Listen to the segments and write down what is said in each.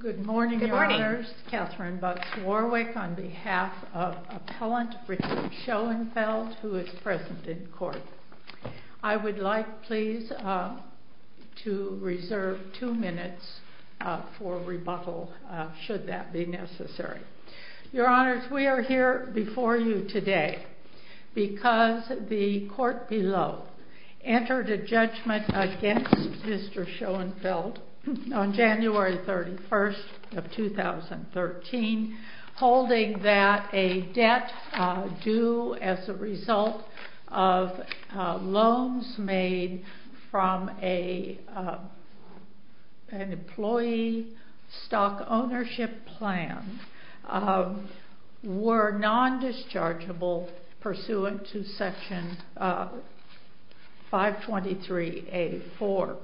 Good morning, Your Honors, Katherine Bux-Warwick on behalf of Appellant Richard Schoenfeld, who is present in court. I would like, please, to reserve two minutes for rebuttal, should that be necessary. Your Honors, we are here before you today because the court below entered a judgment against Mr. Schoenfeld on January 31st of 2013, holding that a debt due as a result of loans made from an employee stock ownership plan were non-dischargeable pursuant to Section 523A-4.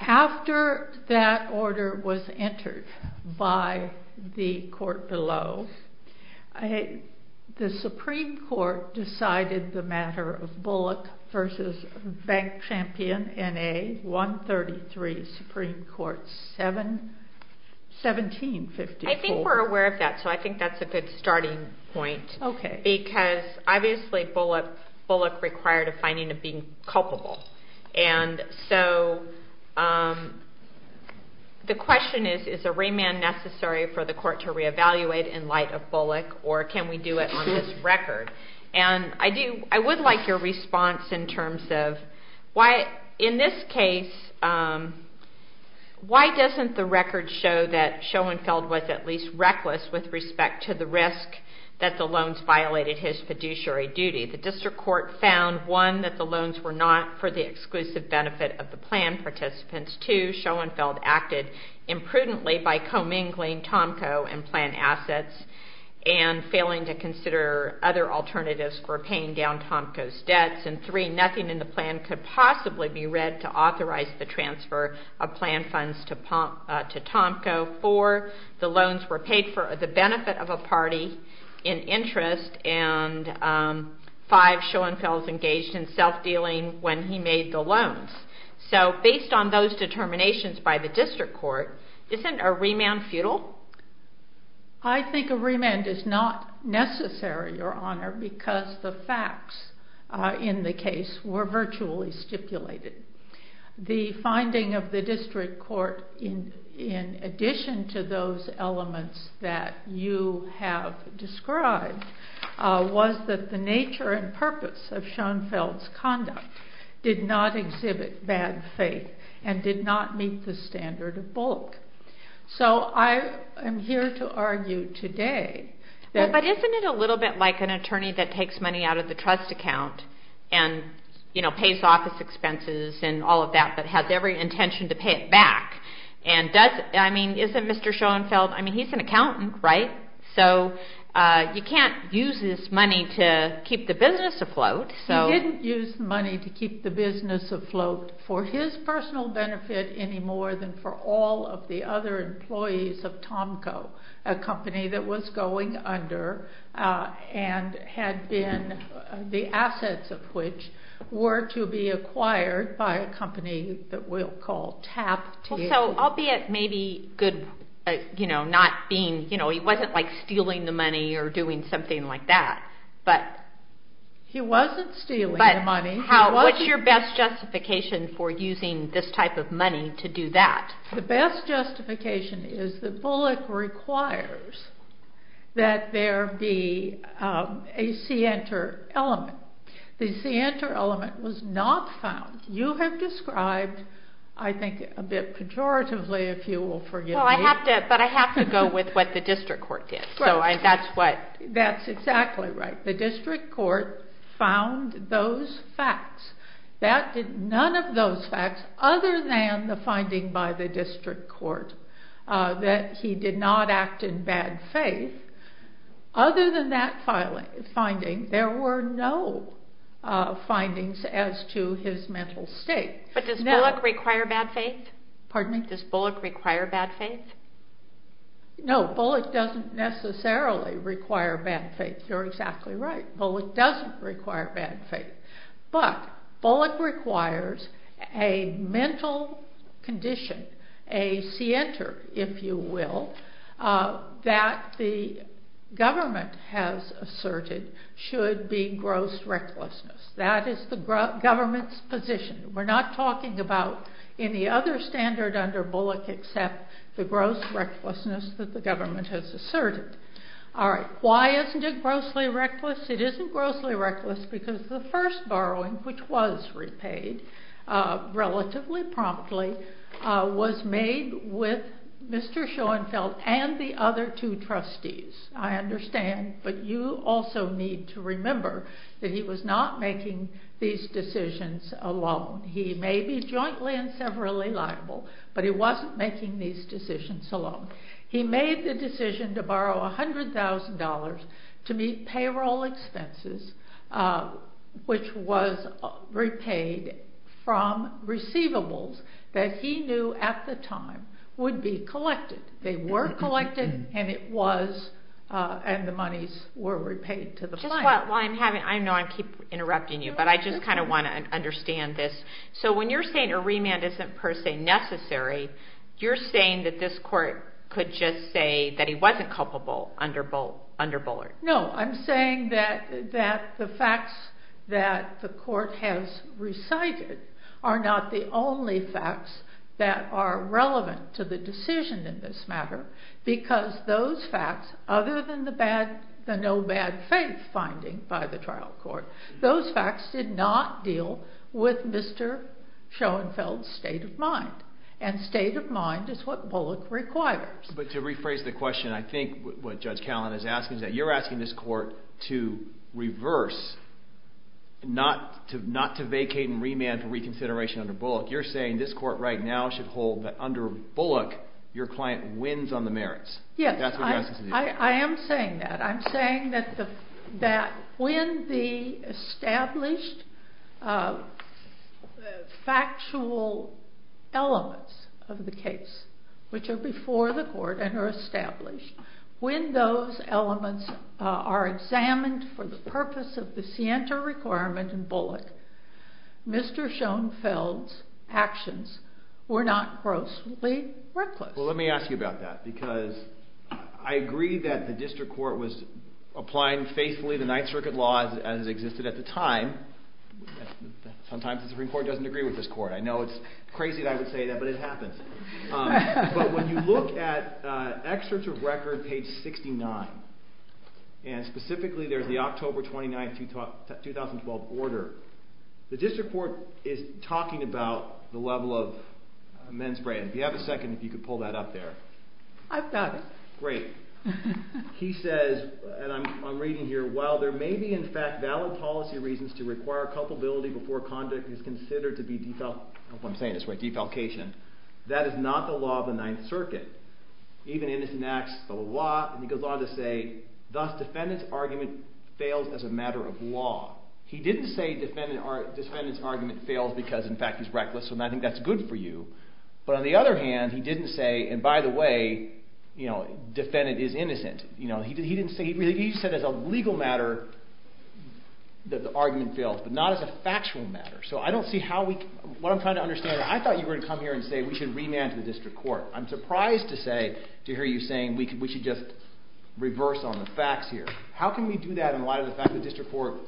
After that order was entered by the court below, the Supreme Court decided the matter of Bullock v. Bank Champion N.A. 133, Supreme Court 1754. I think we're aware of that, so I think that's a good starting point, because obviously Bullock required a finding of being culpable. And so the question is, is a remand necessary for the court to reevaluate in light of Bullock, or can we do it on this record? And I would like your response in terms of, in this case, why doesn't the record show that Schoenfeld was at least reckless with respect to the risk that the loans violated his fiduciary duty? The District Court found, one, that the loans were not for the exclusive benefit of the plan participants. Two, Schoenfeld acted imprudently by commingling Tomco and plan assets and failing to consider other alternatives for paying down Tomco's debts. And three, nothing in the plan could possibly be read to authorize the transfer of plan funds to Tomco. Four, the loans were paid for the benefit of a party in interest. And five, Schoenfeld was engaged in self-dealing when he made the loans. So based on those determinations by the District Court, isn't a remand futile? I think a remand is not necessary, Your Honor, because the facts in the case were virtually stipulated. The finding of the District Court, in addition to those elements that you have described, was that the nature and purpose of Schoenfeld's conduct did not exhibit bad faith and did not meet the standard of bulk. So I am here to argue today that... But isn't it a little bit like an attorney that takes money out of the trust account and, you know, pays office expenses and all of that, but has every intention to pay it back? And doesn't, I mean, isn't Mr. Schoenfeld, I mean, he's an accountant, right? So you can't use this money to keep the business afloat. He didn't use the money to keep the business afloat for his personal benefit any more than for all of the other employees of Tomco, a company that was going under and had been, the assets of which were to be acquired by a company that we'll call TAP. So albeit maybe good, you know, not being, you know, he wasn't like stealing the money or doing something like that, but... He wasn't stealing the money. But what's your best justification for using this type of money to do that? The best justification is that Bullock requires that there be a scienter element. The scienter element was not found. You have described, I think a bit pejoratively, if you will forgive me... Well, I have to, but I have to go with what the district court did, so that's what... That's exactly right. The district court found those facts. That did none of those facts other than the finding by the district court that he did not act in bad faith. Other than that finding, there were no findings as to his mental state. But does Bullock require bad faith? Pardon me? Does Bullock require bad faith? No, Bullock doesn't necessarily require bad faith. You're exactly right. Bullock doesn't require bad faith. But Bullock requires a mental condition, a scienter, if you will, that the government has asserted should be gross recklessness. That is the government's position. We're not talking about any other standard under Bullock except the gross recklessness that the government has asserted. All right. Why isn't it grossly reckless? It isn't grossly reckless because the first borrowing, which was repaid relatively promptly, was made with Mr. Schoenfeld and the other two trustees. I understand, but you also need to remember that he was not making these decisions alone. He may be jointly and severally liable, but he wasn't making these decisions alone. He made the decision to borrow $100,000 to meet payroll expenses, which was repaid from receivables that he knew at the time would be collected. They were collected, and it was, and the monies were repaid to the client. I know I keep interrupting you, but I just kind of want to understand this. So when you're saying a remand isn't per se necessary, you're saying that this court could just say that he wasn't culpable under Bullock? No, I'm saying that the facts that the court has recited are not the only facts that are relevant to the decision in this matter because those facts, other than the no bad faith finding by the trial court, those facts did not deal with Mr. Schoenfeld's state of mind, and state of mind is what Bullock requires. But to rephrase the question, I think what Judge Callan is asking is that you're asking this court to reverse, not to vacate and remand for reconsideration under Bullock. You're saying this court right now should hold that under Bullock, your client wins on the merits. Yes, I am saying that. I'm saying that when the established factual elements of the case, which are before the court and are established, when those elements are examined for the purpose of the scienter requirement in Bullock, Mr. Schoenfeld's actions were not grossly reckless. Well, let me ask you about that because I agree that the district court was applying faithfully the Ninth Circuit laws as existed at the time. Sometimes the Supreme Court doesn't agree with this court. I know it's crazy that I would say that, but it happens. But when you look at excerpts of record page 69, and specifically there's the October 29, 2012 order, the district court is talking about the level of men's brain. Do you have a second if you could pull that up there? I've got it. Great. He says, and I'm reading here, while there may be in fact valid policy reasons to require culpability before conduct is considered to be defalcation, that is not the law of the Ninth Circuit. Even innocent acts, the law, and he goes on to say, thus defendant's argument fails as a matter of law. He didn't say defendant's argument fails because in fact he's reckless, and I think that's good for you. But on the other hand, he didn't say, and by the way, defendant is innocent. He said as a legal matter that the argument fails, but not as a factual matter. So what I'm trying to understand, I thought you were going to come here and say we should remand to the district court. I'm surprised to hear you saying we should just reverse on the facts here. How can we do that in light of the fact that the district court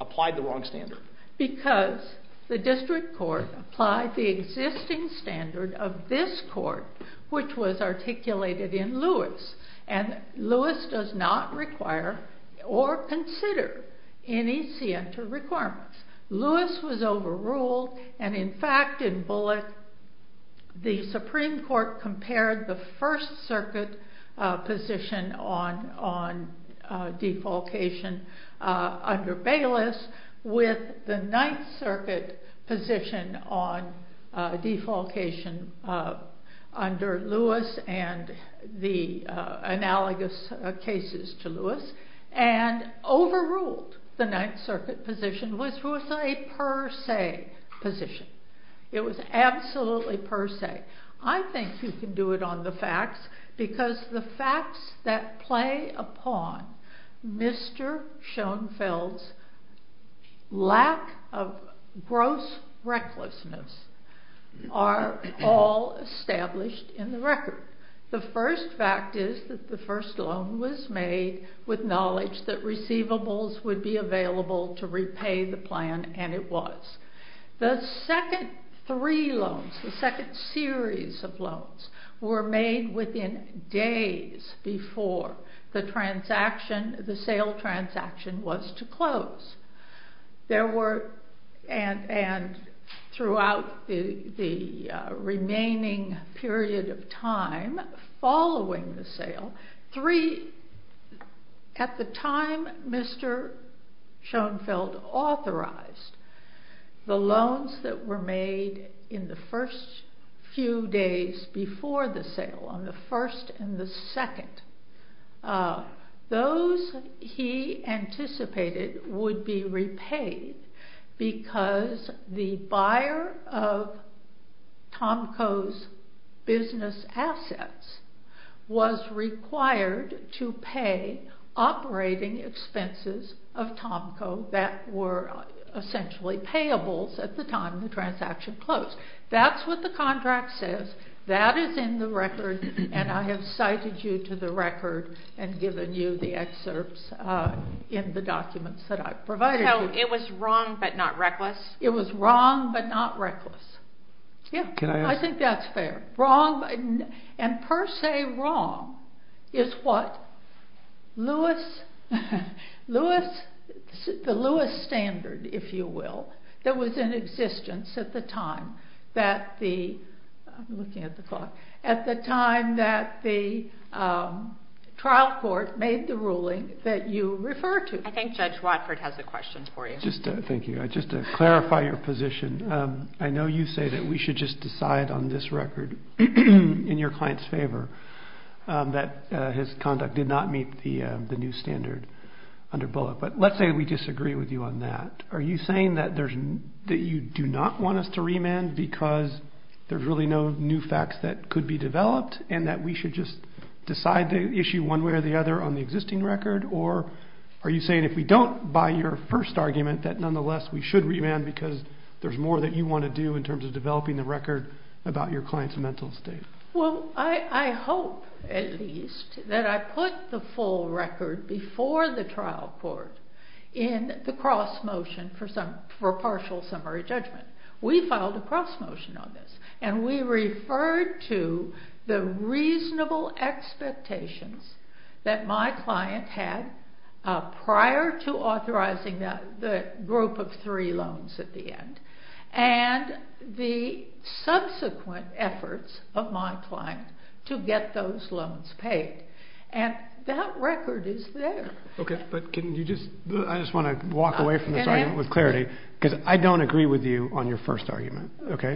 applied the wrong standard? Because the district court applied the existing standard of this court, which was articulated in Lewis, and Lewis does not require or consider any scienter requirements. Lewis was overruled, and in fact in Bullock, the Supreme Court compared the First Circuit position on defalcation under Bayless with the Ninth Circuit position on defalcation under Lewis and the analogous cases to Lewis, and overruled the Ninth Circuit position, which was a per se position. It was absolutely per se. I think you can do it on the facts, because the facts that play upon Mr. Schoenfeld's lack of gross recklessness are all established in the record. The first fact is that the first loan was made with knowledge that receivables would be available to repay the plan, and it was. The second three loans, the second series of loans, were made within days before the sale transaction was to close. Throughout the remaining period of time following the sale, Three, at the time Mr. Schoenfeld authorized, the loans that were made in the first few days before the sale, on the first and the second, those he anticipated would be repaid because the buyer of Tomco's business assets was required to pay operating expenses of Tomco that were essentially payables at the time the transaction closed. That's what the contract says. That is in the record, and I have cited you to the record and given you the excerpts in the documents that I provided you. So it was wrong but not reckless? It was wrong but not reckless. I think that's fair. And per se wrong is what the Lewis standard, if you will, that was in existence at the time that the trial court made the ruling that you refer to. I think Judge Watford has a question for you. Thank you. Just to clarify your position, I know you say that we should just decide on this record in your client's favor that his conduct did not meet the new standard under Bullock. But let's say we disagree with you on that. Are you saying that you do not want us to remand because there's really no new facts that could be developed and that we should just decide the issue one way or the other on the existing record? Or are you saying if we don't by your first argument that nonetheless we should remand because there's more that you want to do in terms of developing the record about your client's mental state? Well, I hope at least that I put the full record before the trial court in the cross motion for partial summary judgment. We filed a cross motion on this, and we referred to the reasonable expectations that my client had prior to authorizing the group of three loans at the end and the subsequent efforts of my client to get those loans paid. And that record is there. Okay, but can you just... I just want to walk away from this argument with clarity because I don't agree with you on your first argument.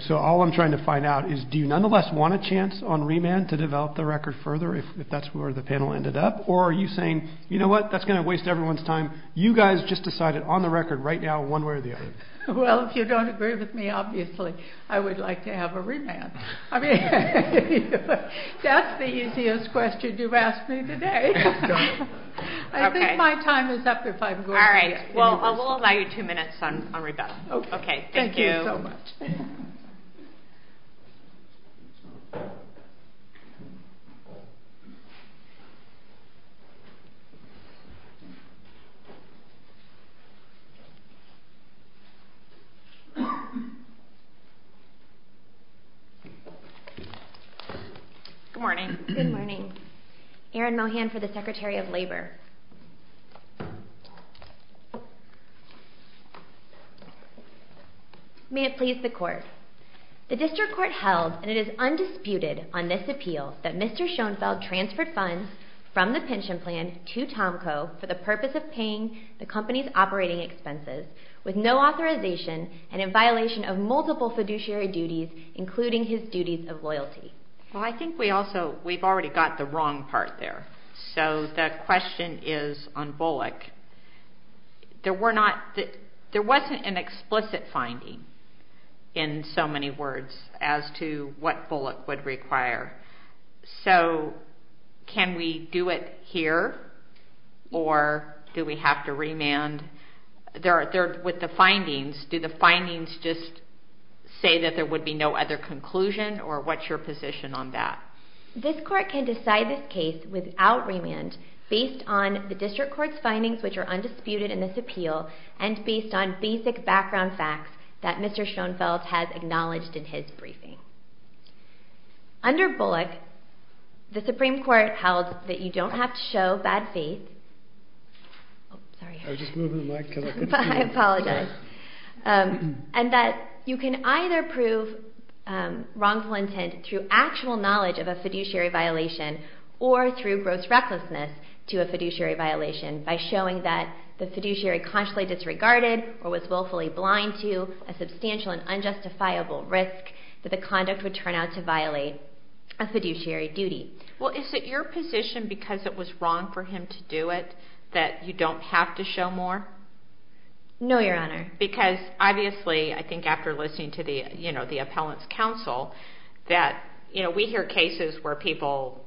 So all I'm trying to find out is do you nonetheless want a chance on remand to develop the record further if that's where the panel ended up? Or are you saying, you know what, that's going to waste everyone's time. You guys just decided on the record right now one way or the other. Well, if you don't agree with me, obviously, I would like to have a remand. I mean, that's the easiest question you've asked me today. I think my time is up if I'm going to... All right. Well, we'll allow you two minutes on remand. Okay, thank you. Thank you so much. Good morning. Good morning. Erin Mohan for the Secretary of Labor. May it please the Court. The District Court held, and it is undisputed on this appeal, that Mr. Schoenfeld transferred funds from the pension plan to Tomco for the purpose of paying the company's operating expenses with no authorization and in violation of multiple fiduciary duties, including his duties of loyalty. Well, I think we've already got the wrong part there. So the question is on Bullock. There wasn't an explicit finding in so many words as to what Bullock would require. So can we do it here, or do we have to remand? With the findings, do the findings just say that there would be no other conclusion, or what's your position on that? This Court can decide this case without remand based on the District Court's findings, which are undisputed in this appeal, and based on basic background facts that Mr. Schoenfeld has acknowledged in his briefing. Under Bullock, the Supreme Court held that you don't have to show bad faith. Sorry. I was just moving the mic. I apologize. And that you can either prove wrongful intent through actual knowledge of a fiduciary violation or through gross recklessness to a fiduciary violation by showing that the fiduciary consciously disregarded or was willfully blind to a substantial and unjustifiable risk that the conduct would turn out to violate a fiduciary duty. Well, is it your position, because it was wrong for him to do it, that you don't have to show more? No, Your Honor. Because, obviously, I think after listening to the appellant's counsel, that we hear cases where people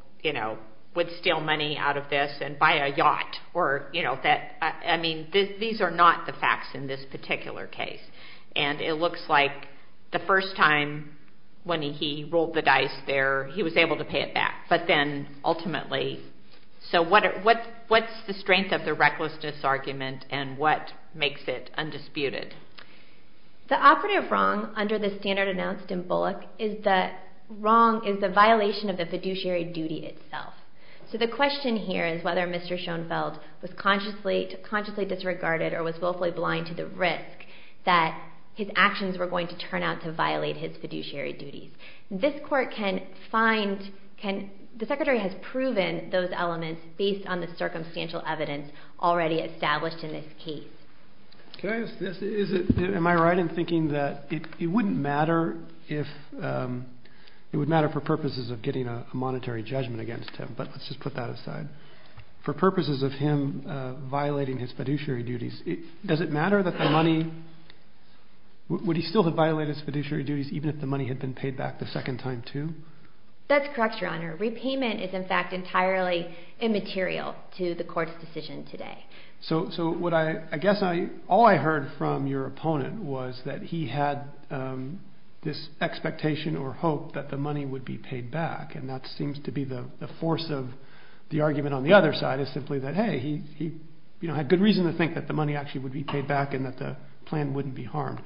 would steal money out of this and buy a yacht. I mean, these are not the facts in this particular case. And it looks like the first time when he rolled the dice there, he was able to pay it back. But then, ultimately, so what's the strength of the recklessness argument and what makes it undisputed? The operative wrong under the standard announced in Bullock is the violation of the fiduciary duty itself. So the question here is whether Mr. Schoenfeld was consciously disregarded or was willfully blind to the risk that his actions were going to turn out to violate his fiduciary duties. This court can find, can, the Secretary has proven those elements based on the circumstantial evidence already established in this case. Can I ask this? Am I right in thinking that it wouldn't matter if, it would matter for purposes of getting a monetary judgment against him, but let's just put that aside. For purposes of him violating his fiduciary duties, does it matter that the money, would he still have violated his fiduciary duties even if the money had been paid back the second time too? That's correct, Your Honor. Repayment is, in fact, entirely immaterial to the court's decision today. So what I, I guess I, all I heard from your opponent was that he had this expectation or hope that the money would be paid back and that seems to be the force of the argument on the other side is simply that, hey, he, you know, had good reason to think that the money actually would be paid back and that the plan wouldn't be harmed.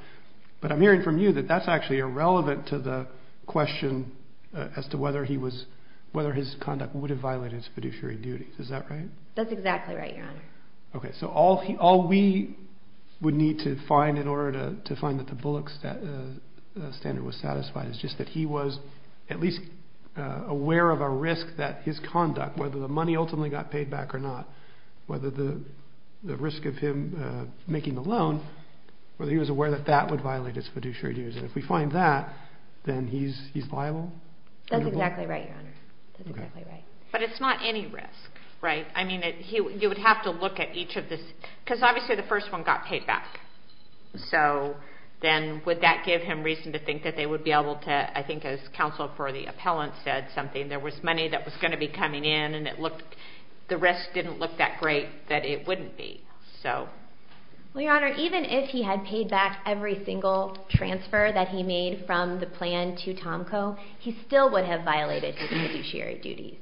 But I'm hearing from you that that's actually irrelevant to the question as to whether he was, whether his conduct would have violated his fiduciary duties. Is that right? That's exactly right, Your Honor. Okay, so all, all we would need to find in order to, to find that the Bullock standard was satisfied is just that he was at least aware of a risk that his conduct, whether the money ultimately got paid back or not, whether the, the risk of him making a loan, whether he was aware that that would violate his fiduciary duties. And if we find that, then he's, he's liable? That's exactly right, Your Honor. That's exactly right. But it's not any risk, right? I mean, you would have to look at each of the, because obviously the first one got paid back. So then would that give him reason to think that they would be able to, I think as counsel for the appellant said something, there was money that was going to be coming in and it looked, the risk didn't look that great that it wouldn't be. So. Well, Your Honor, even if he had paid back every single transfer that he made from the plan to Tomco, he still would have violated his fiduciary duties.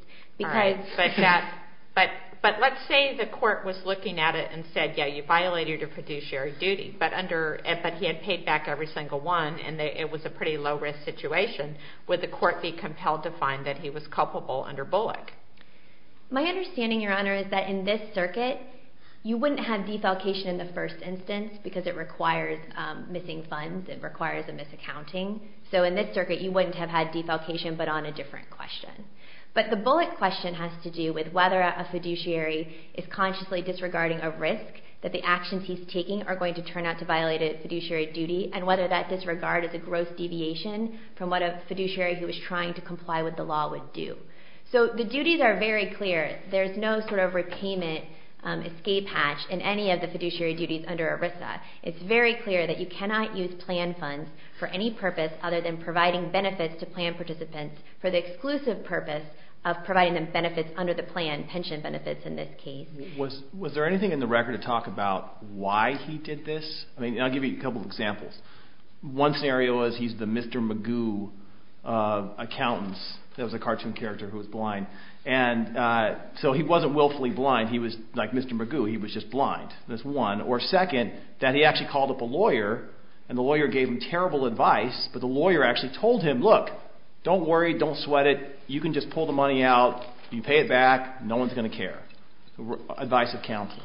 But let's say the court was looking at it and said, yeah, you violated your fiduciary duty, but under, but he had paid back every single one and it was a pretty low risk situation. Would the court be compelled to find that he was culpable under Bullock? My understanding, Your Honor, is that in this circuit you wouldn't have defalcation in the first instance because it requires missing funds. It requires a misaccounting. So in this circuit you wouldn't have had defalcation, but on a different question. But the Bullock question has to do with whether a fiduciary is consciously disregarding a risk that the actions he's taking are going to turn out to violate a fiduciary duty and whether that disregard is a gross deviation from what a fiduciary who was trying to comply with the law would do. So the duties are very clear. There's no sort of repayment escape hatch in any of the fiduciary duties under ERISA. It's very clear that you cannot use plan funds for any purpose other than the exclusive purpose of providing them benefits under the plan, pension benefits in this case. Was there anything in the record to talk about why he did this? I'll give you a couple of examples. One scenario is he's the Mr. Magoo accountants. That was a cartoon character who was blind. So he wasn't willfully blind. He was like Mr. Magoo. He was just blind. That's one. Or second, that he actually called up a lawyer and the lawyer gave him terrible advice, but the lawyer actually told him, look, don't worry, don't sweat it, you can just pull the money out, you pay it back, no one's going to care. Advice of counsel.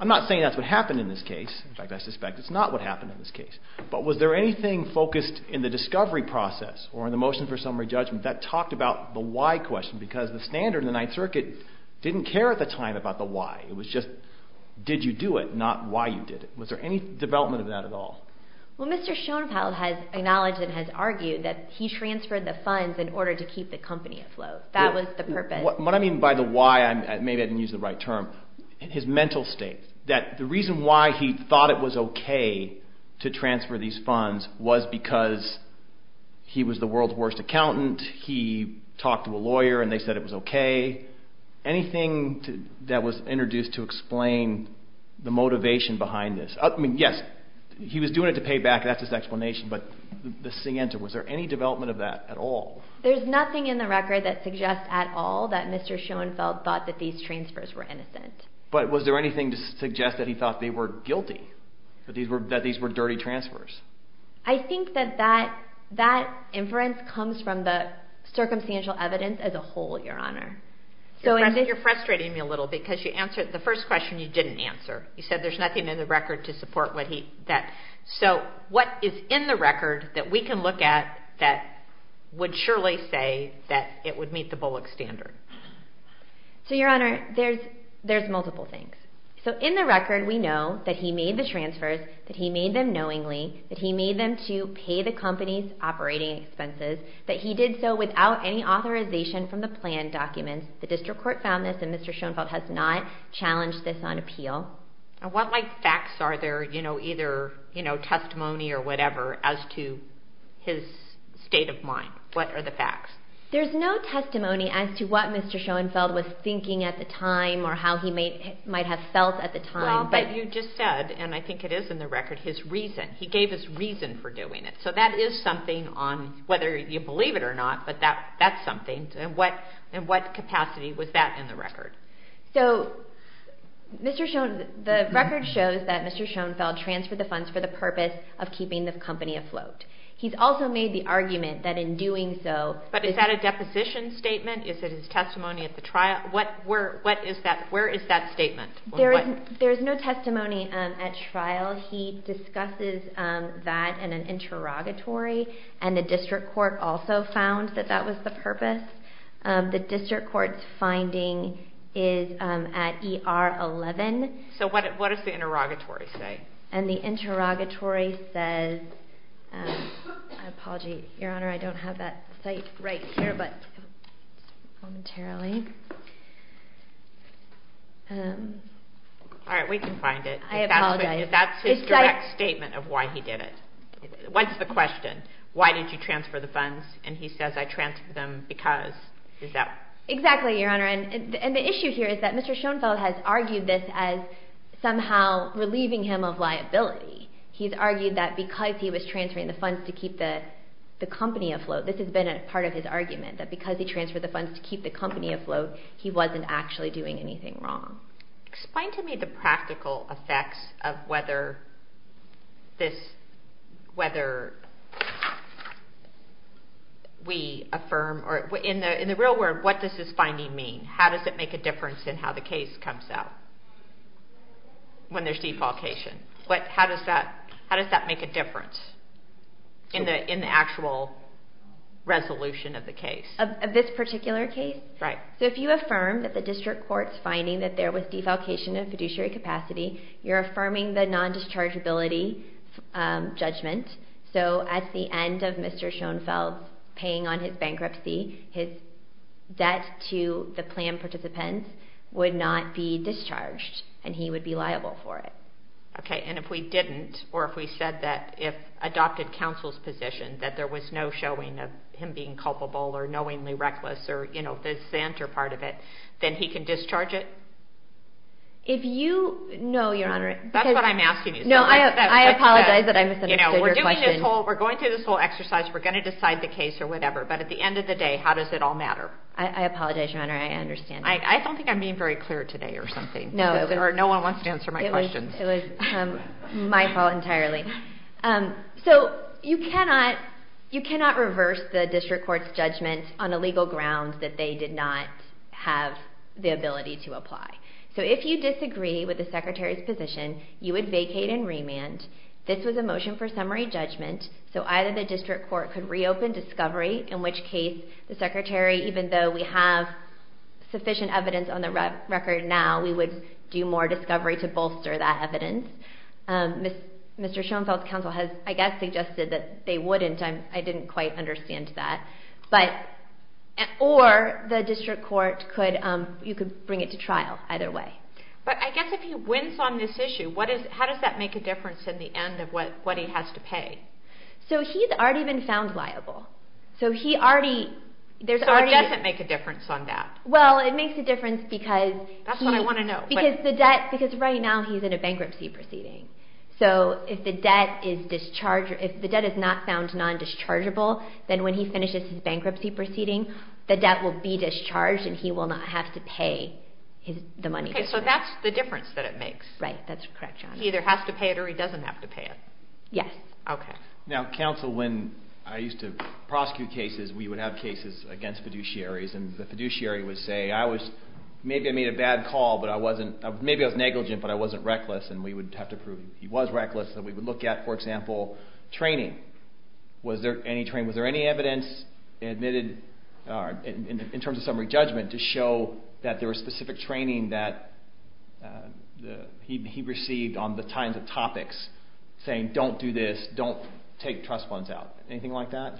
I'm not saying that's what happened in this case. In fact, I suspect it's not what happened in this case. But was there anything focused in the discovery process or in the motion for summary judgment that talked about the why question? Because the standard in the Ninth Circuit didn't care at the time about the why. It was just did you do it, not why you did it. Was there any development of that at all? Well, Mr. Schoenfeld has acknowledged and has argued that he transferred the funds in order to keep the company afloat. That was the purpose. What I mean by the why, maybe I didn't use the right term, his mental state, that the reason why he thought it was okay to transfer these funds was because he was the world's worst accountant, he talked to a lawyer and they said it was okay. Anything that was introduced to explain the motivation behind this? Yes, he was doing it to pay back. That's his explanation. But was there any development of that at all? There's nothing in the record that suggests at all that Mr. Schoenfeld thought that these transfers were innocent. But was there anything to suggest that he thought they were guilty, that these were dirty transfers? I think that that inference comes from the circumstantial evidence as a whole, Your Honor. You're frustrating me a little because the first question you didn't answer. You said there's nothing in the record to support that. So what is in the record that we can look at that would surely say that it would meet the Bullock standard? Your Honor, there's multiple things. In the record, we know that he made the transfers, that he made them knowingly, that he made them to pay the company's operating expenses, that he did so without any authorization from the plan documents. The district court found this, and Mr. Schoenfeld has not challenged this on appeal. What facts are there, either testimony or whatever, as to his state of mind? What are the facts? There's no testimony as to what Mr. Schoenfeld was thinking at the time or how he might have felt at the time. But you just said, and I think it is in the record, his reason. He gave his reason for doing it. So that is something on whether you believe it or not, but that's something. And what capacity was that in the record? So the record shows that Mr. Schoenfeld transferred the funds for the purpose of keeping the company afloat. He's also made the argument that in doing so... But is that a deposition statement? Is it his testimony at the trial? Where is that statement? There is no testimony at trial. He discusses that in an interrogatory, and the district court also found that that was the purpose. The district court's finding is at ER 11. So what does the interrogatory say? And the interrogatory says... I apologize. Your Honor, I don't have that site right here, but... Momentarily. All right, we can find it. I apologize. That's his direct statement of why he did it. What's the question? Why did you transfer the funds? And he says, I transferred them because. Is that... Exactly, Your Honor. And the issue here is that Mr. Schoenfeld has argued this as somehow relieving him of liability. He's argued that because he was transferring the funds to keep the company afloat, this has been a part of his argument, that because he transferred the funds to keep the company afloat, he wasn't actually doing anything wrong. Explain to me the practical effects of whether this, whether we affirm, or in the real world, what does this finding mean? How does it make a difference in how the case comes out when there's defalcation? How does that make a difference in the actual resolution of the case? Of this particular case? Right. So if you affirm that the district court's finding that there was defalcation in fiduciary capacity, you're affirming the non-dischargeability judgment. So at the end of Mr. Schoenfeld paying on his bankruptcy, his debt to the plan participants would not be discharged, and he would be liable for it. Okay, and if we didn't, or if we said that if adopted counsel's position that there was no showing of him being culpable or knowingly reckless or the center part of it, then he can discharge it? No, Your Honor. That's what I'm asking you. I apologize that I misunderstood your question. We're going through this whole exercise. We're going to decide the case or whatever, but at the end of the day, how does it all matter? I apologize, Your Honor. I understand. I don't think I'm being very clear today or something, or no one wants to answer my questions. It was my fault entirely. So you cannot reverse the district court's judgment on a legal ground that they did not have the ability to apply. So if you disagree with the Secretary's position, you would vacate and remand. This was a motion for summary judgment, so either the district court could reopen discovery, in which case the Secretary, even though we have sufficient evidence on the record now, we would do more discovery to bolster that evidence. Mr. Schoenfeld's counsel has, I guess, suggested that they wouldn't. I didn't quite understand that. Or the district court could bring it to trial either way. But I guess if he wins on this issue, how does that make a difference in the end of what he has to pay? So he's already been found liable. So he already... So it doesn't make a difference on that? Well, it makes a difference because... That's what I want to know. Because right now he's in a bankruptcy proceeding. So if the debt is discharged, if the debt is not found non-dischargeable, then when he finishes his bankruptcy proceeding, the debt will be discharged and he will not have to pay the money. Okay, so that's the difference that it makes. Right, that's correct, John. He either has to pay it or he doesn't have to pay it. Yes. Okay. Now, counsel, when I used to prosecute cases, we would have cases against fiduciaries, and the fiduciary would say, maybe I made a bad call, but I wasn't... Maybe I was negligent, but I wasn't reckless, and we would have to prove he was reckless, and we would look at, for example, training. Was there any training? Was there any evidence admitted in terms of summary judgment to show that there was specific training that he received on the kinds of topics saying, don't do this, don't take trust funds out? Anything like that?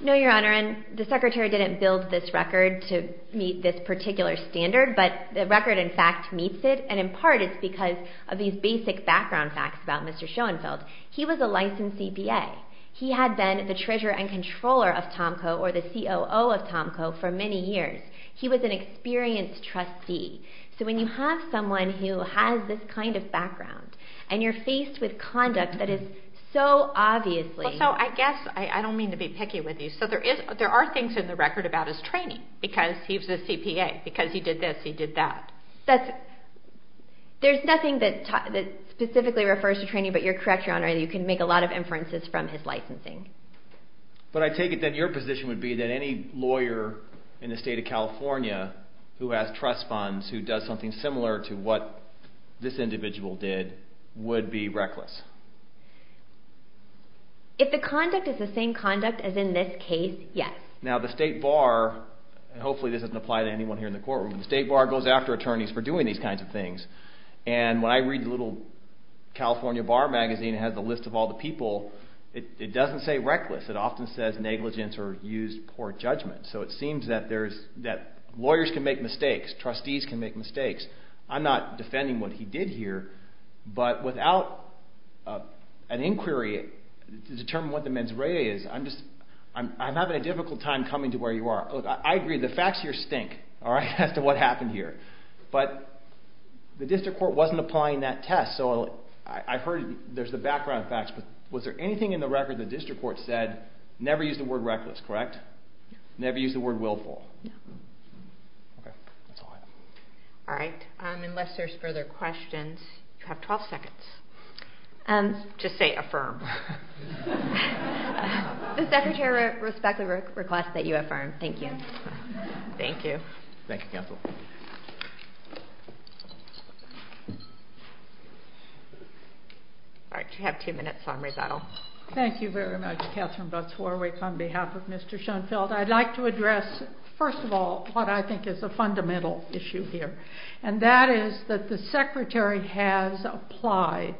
No, Your Honor, and the Secretary didn't build this record to meet this particular standard, but the record, in fact, meets it, and in part it's because of these basic background facts about Mr. Schoenfeld. He was a licensed CPA. He had been the treasurer and controller of TomCo or the COO of TomCo for many years. He was an experienced trustee. So when you have someone who has this kind of background and you're faced with conduct that is so obviously... So I guess, I don't mean to be picky with you, but there are things in the record about his training because he was a CPA. Because he did this, he did that. There's nothing that specifically refers to training, but you're correct, Your Honor, you can make a lot of inferences from his licensing. But I take it that your position would be that any lawyer in the state of California who has trust funds who does something similar to what this individual did would be reckless. If the conduct is the same conduct as in this case, yes. Now the state bar, and hopefully this doesn't apply to anyone here in the courtroom, the state bar goes after attorneys for doing these kinds of things. And when I read the little California bar magazine that has a list of all the people, it doesn't say reckless. It often says negligence or used poor judgment. So it seems that lawyers can make mistakes, trustees can make mistakes. I'm not defending what he did here, but without an inquiry to determine what the mens rea is, I'm having a difficult time coming to where you are. Look, I agree, the facts here stink as to what happened here. But the district court wasn't applying that test, so I've heard there's the background facts, but was there anything in the record the district court said, never use the word reckless, correct? Never use the word willful? No. Okay, that's all I have. All right. Unless there's further questions, you have 12 seconds. Just say affirm. The secretary respectfully requests that you affirm. Thank you. Thank you. Thank you, counsel. All right, you have two minutes on rebuttal. Thank you very much, Katherine Butz-Warwick. On behalf of Mr. Schoenfeld, I'd like to address, first of all, what I think is a fundamental issue here, and that is that the secretary has applied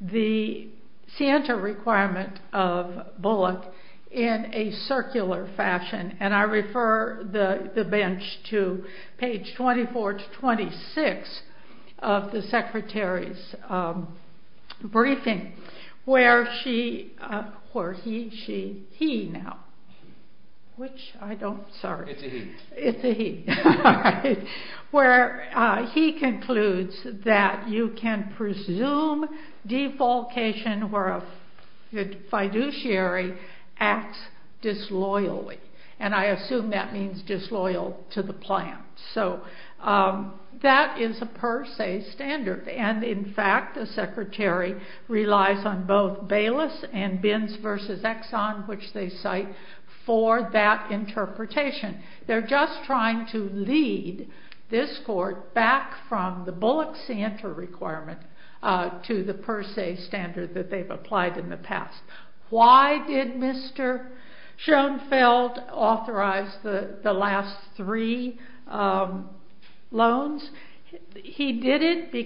the scienter requirement of Bullock in a circular fashion, and I refer the bench to page 24 to 26 of the secretary's briefing, where she, or he, she, he now, which I don't, sorry. It's a he. It's a he. All right, where he concludes that you can presume defalcation where a fiduciary acts disloyally, and I assume that means disloyal to the plan, so that is a per se standard, and in fact, the secretary relies on both Bayless and Binns versus Exxon, which they cite, for that interpretation. They're just trying to lead this court back from the Bullock scienter requirement to the per se standard that they've applied in the past. Why did Mr. Schoenfeld authorize the last three loans? they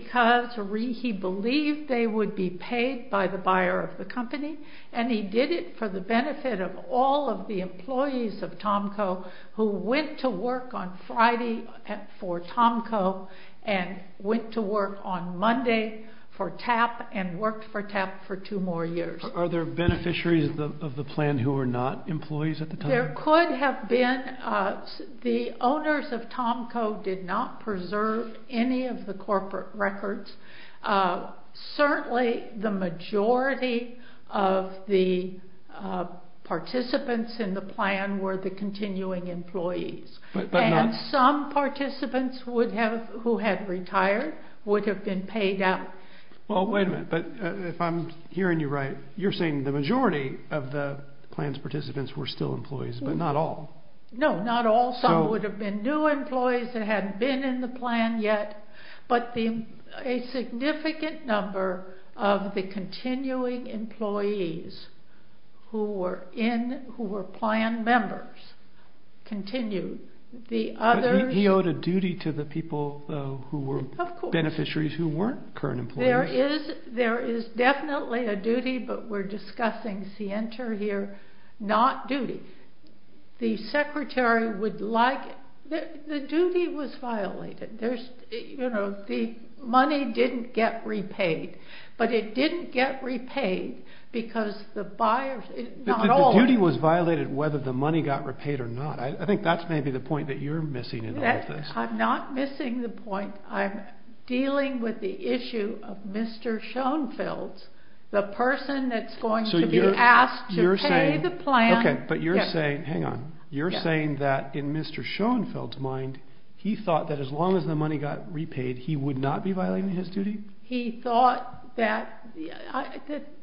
would be paid by the buyer of the company, and he did it for the benefit of all of the employees of Tomco who went to work on Friday for Tomco and went to work on Monday for TAP and worked for TAP for two more years. Are there beneficiaries of the plan who were not employees at the time? There could have been. The owners of Tomco did not preserve any of the corporate records. Certainly, the majority of the participants in the plan were the continuing employees, and some participants who had retired would have been paid out. Well, wait a minute. If I'm hearing you right, you're saying the majority of the plan's participants were still employees, but not all. No, not all. Some would have been new employees that hadn't been in the plan yet, but a significant number of the continuing employees who were plan members continued. But he owed a duty to the people who were beneficiaries who weren't current employees. There is definitely a duty, but we're discussing scienter here, not duty. The secretary would like... The duty was violated. The money didn't get repaid, but it didn't get repaid because the buyers... The duty was violated whether the money got repaid or not. I think that's maybe the point that you're missing in all of this. I'm not missing the point. I'm dealing with the issue of Mr. Schoenfeld's, the person that's going to be asked to pay the plan. Okay, but you're saying... Hang on. You're saying that in Mr. Schoenfeld's mind, he thought that as long as the money got repaid, he would not be violating his duty? He thought that...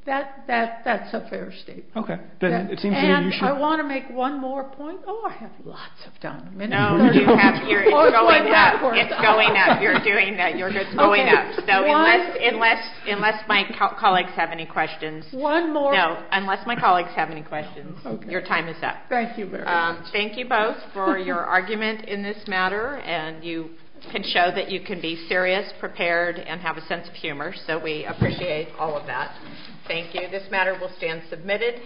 That's a fair statement. Okay. And I want to make one more point. Oh, I have lots of time. No, you have... It's going up. It's going up. You're doing that. It's going up. So unless my colleagues have any questions... One more... No, unless my colleagues have any questions, your time is up. Thank you very much. Thank you both for your argument in this matter, and you can show that you can be serious, prepared, and have a sense of humor, so we appreciate all of that. Thank you. This matter will stand submitted.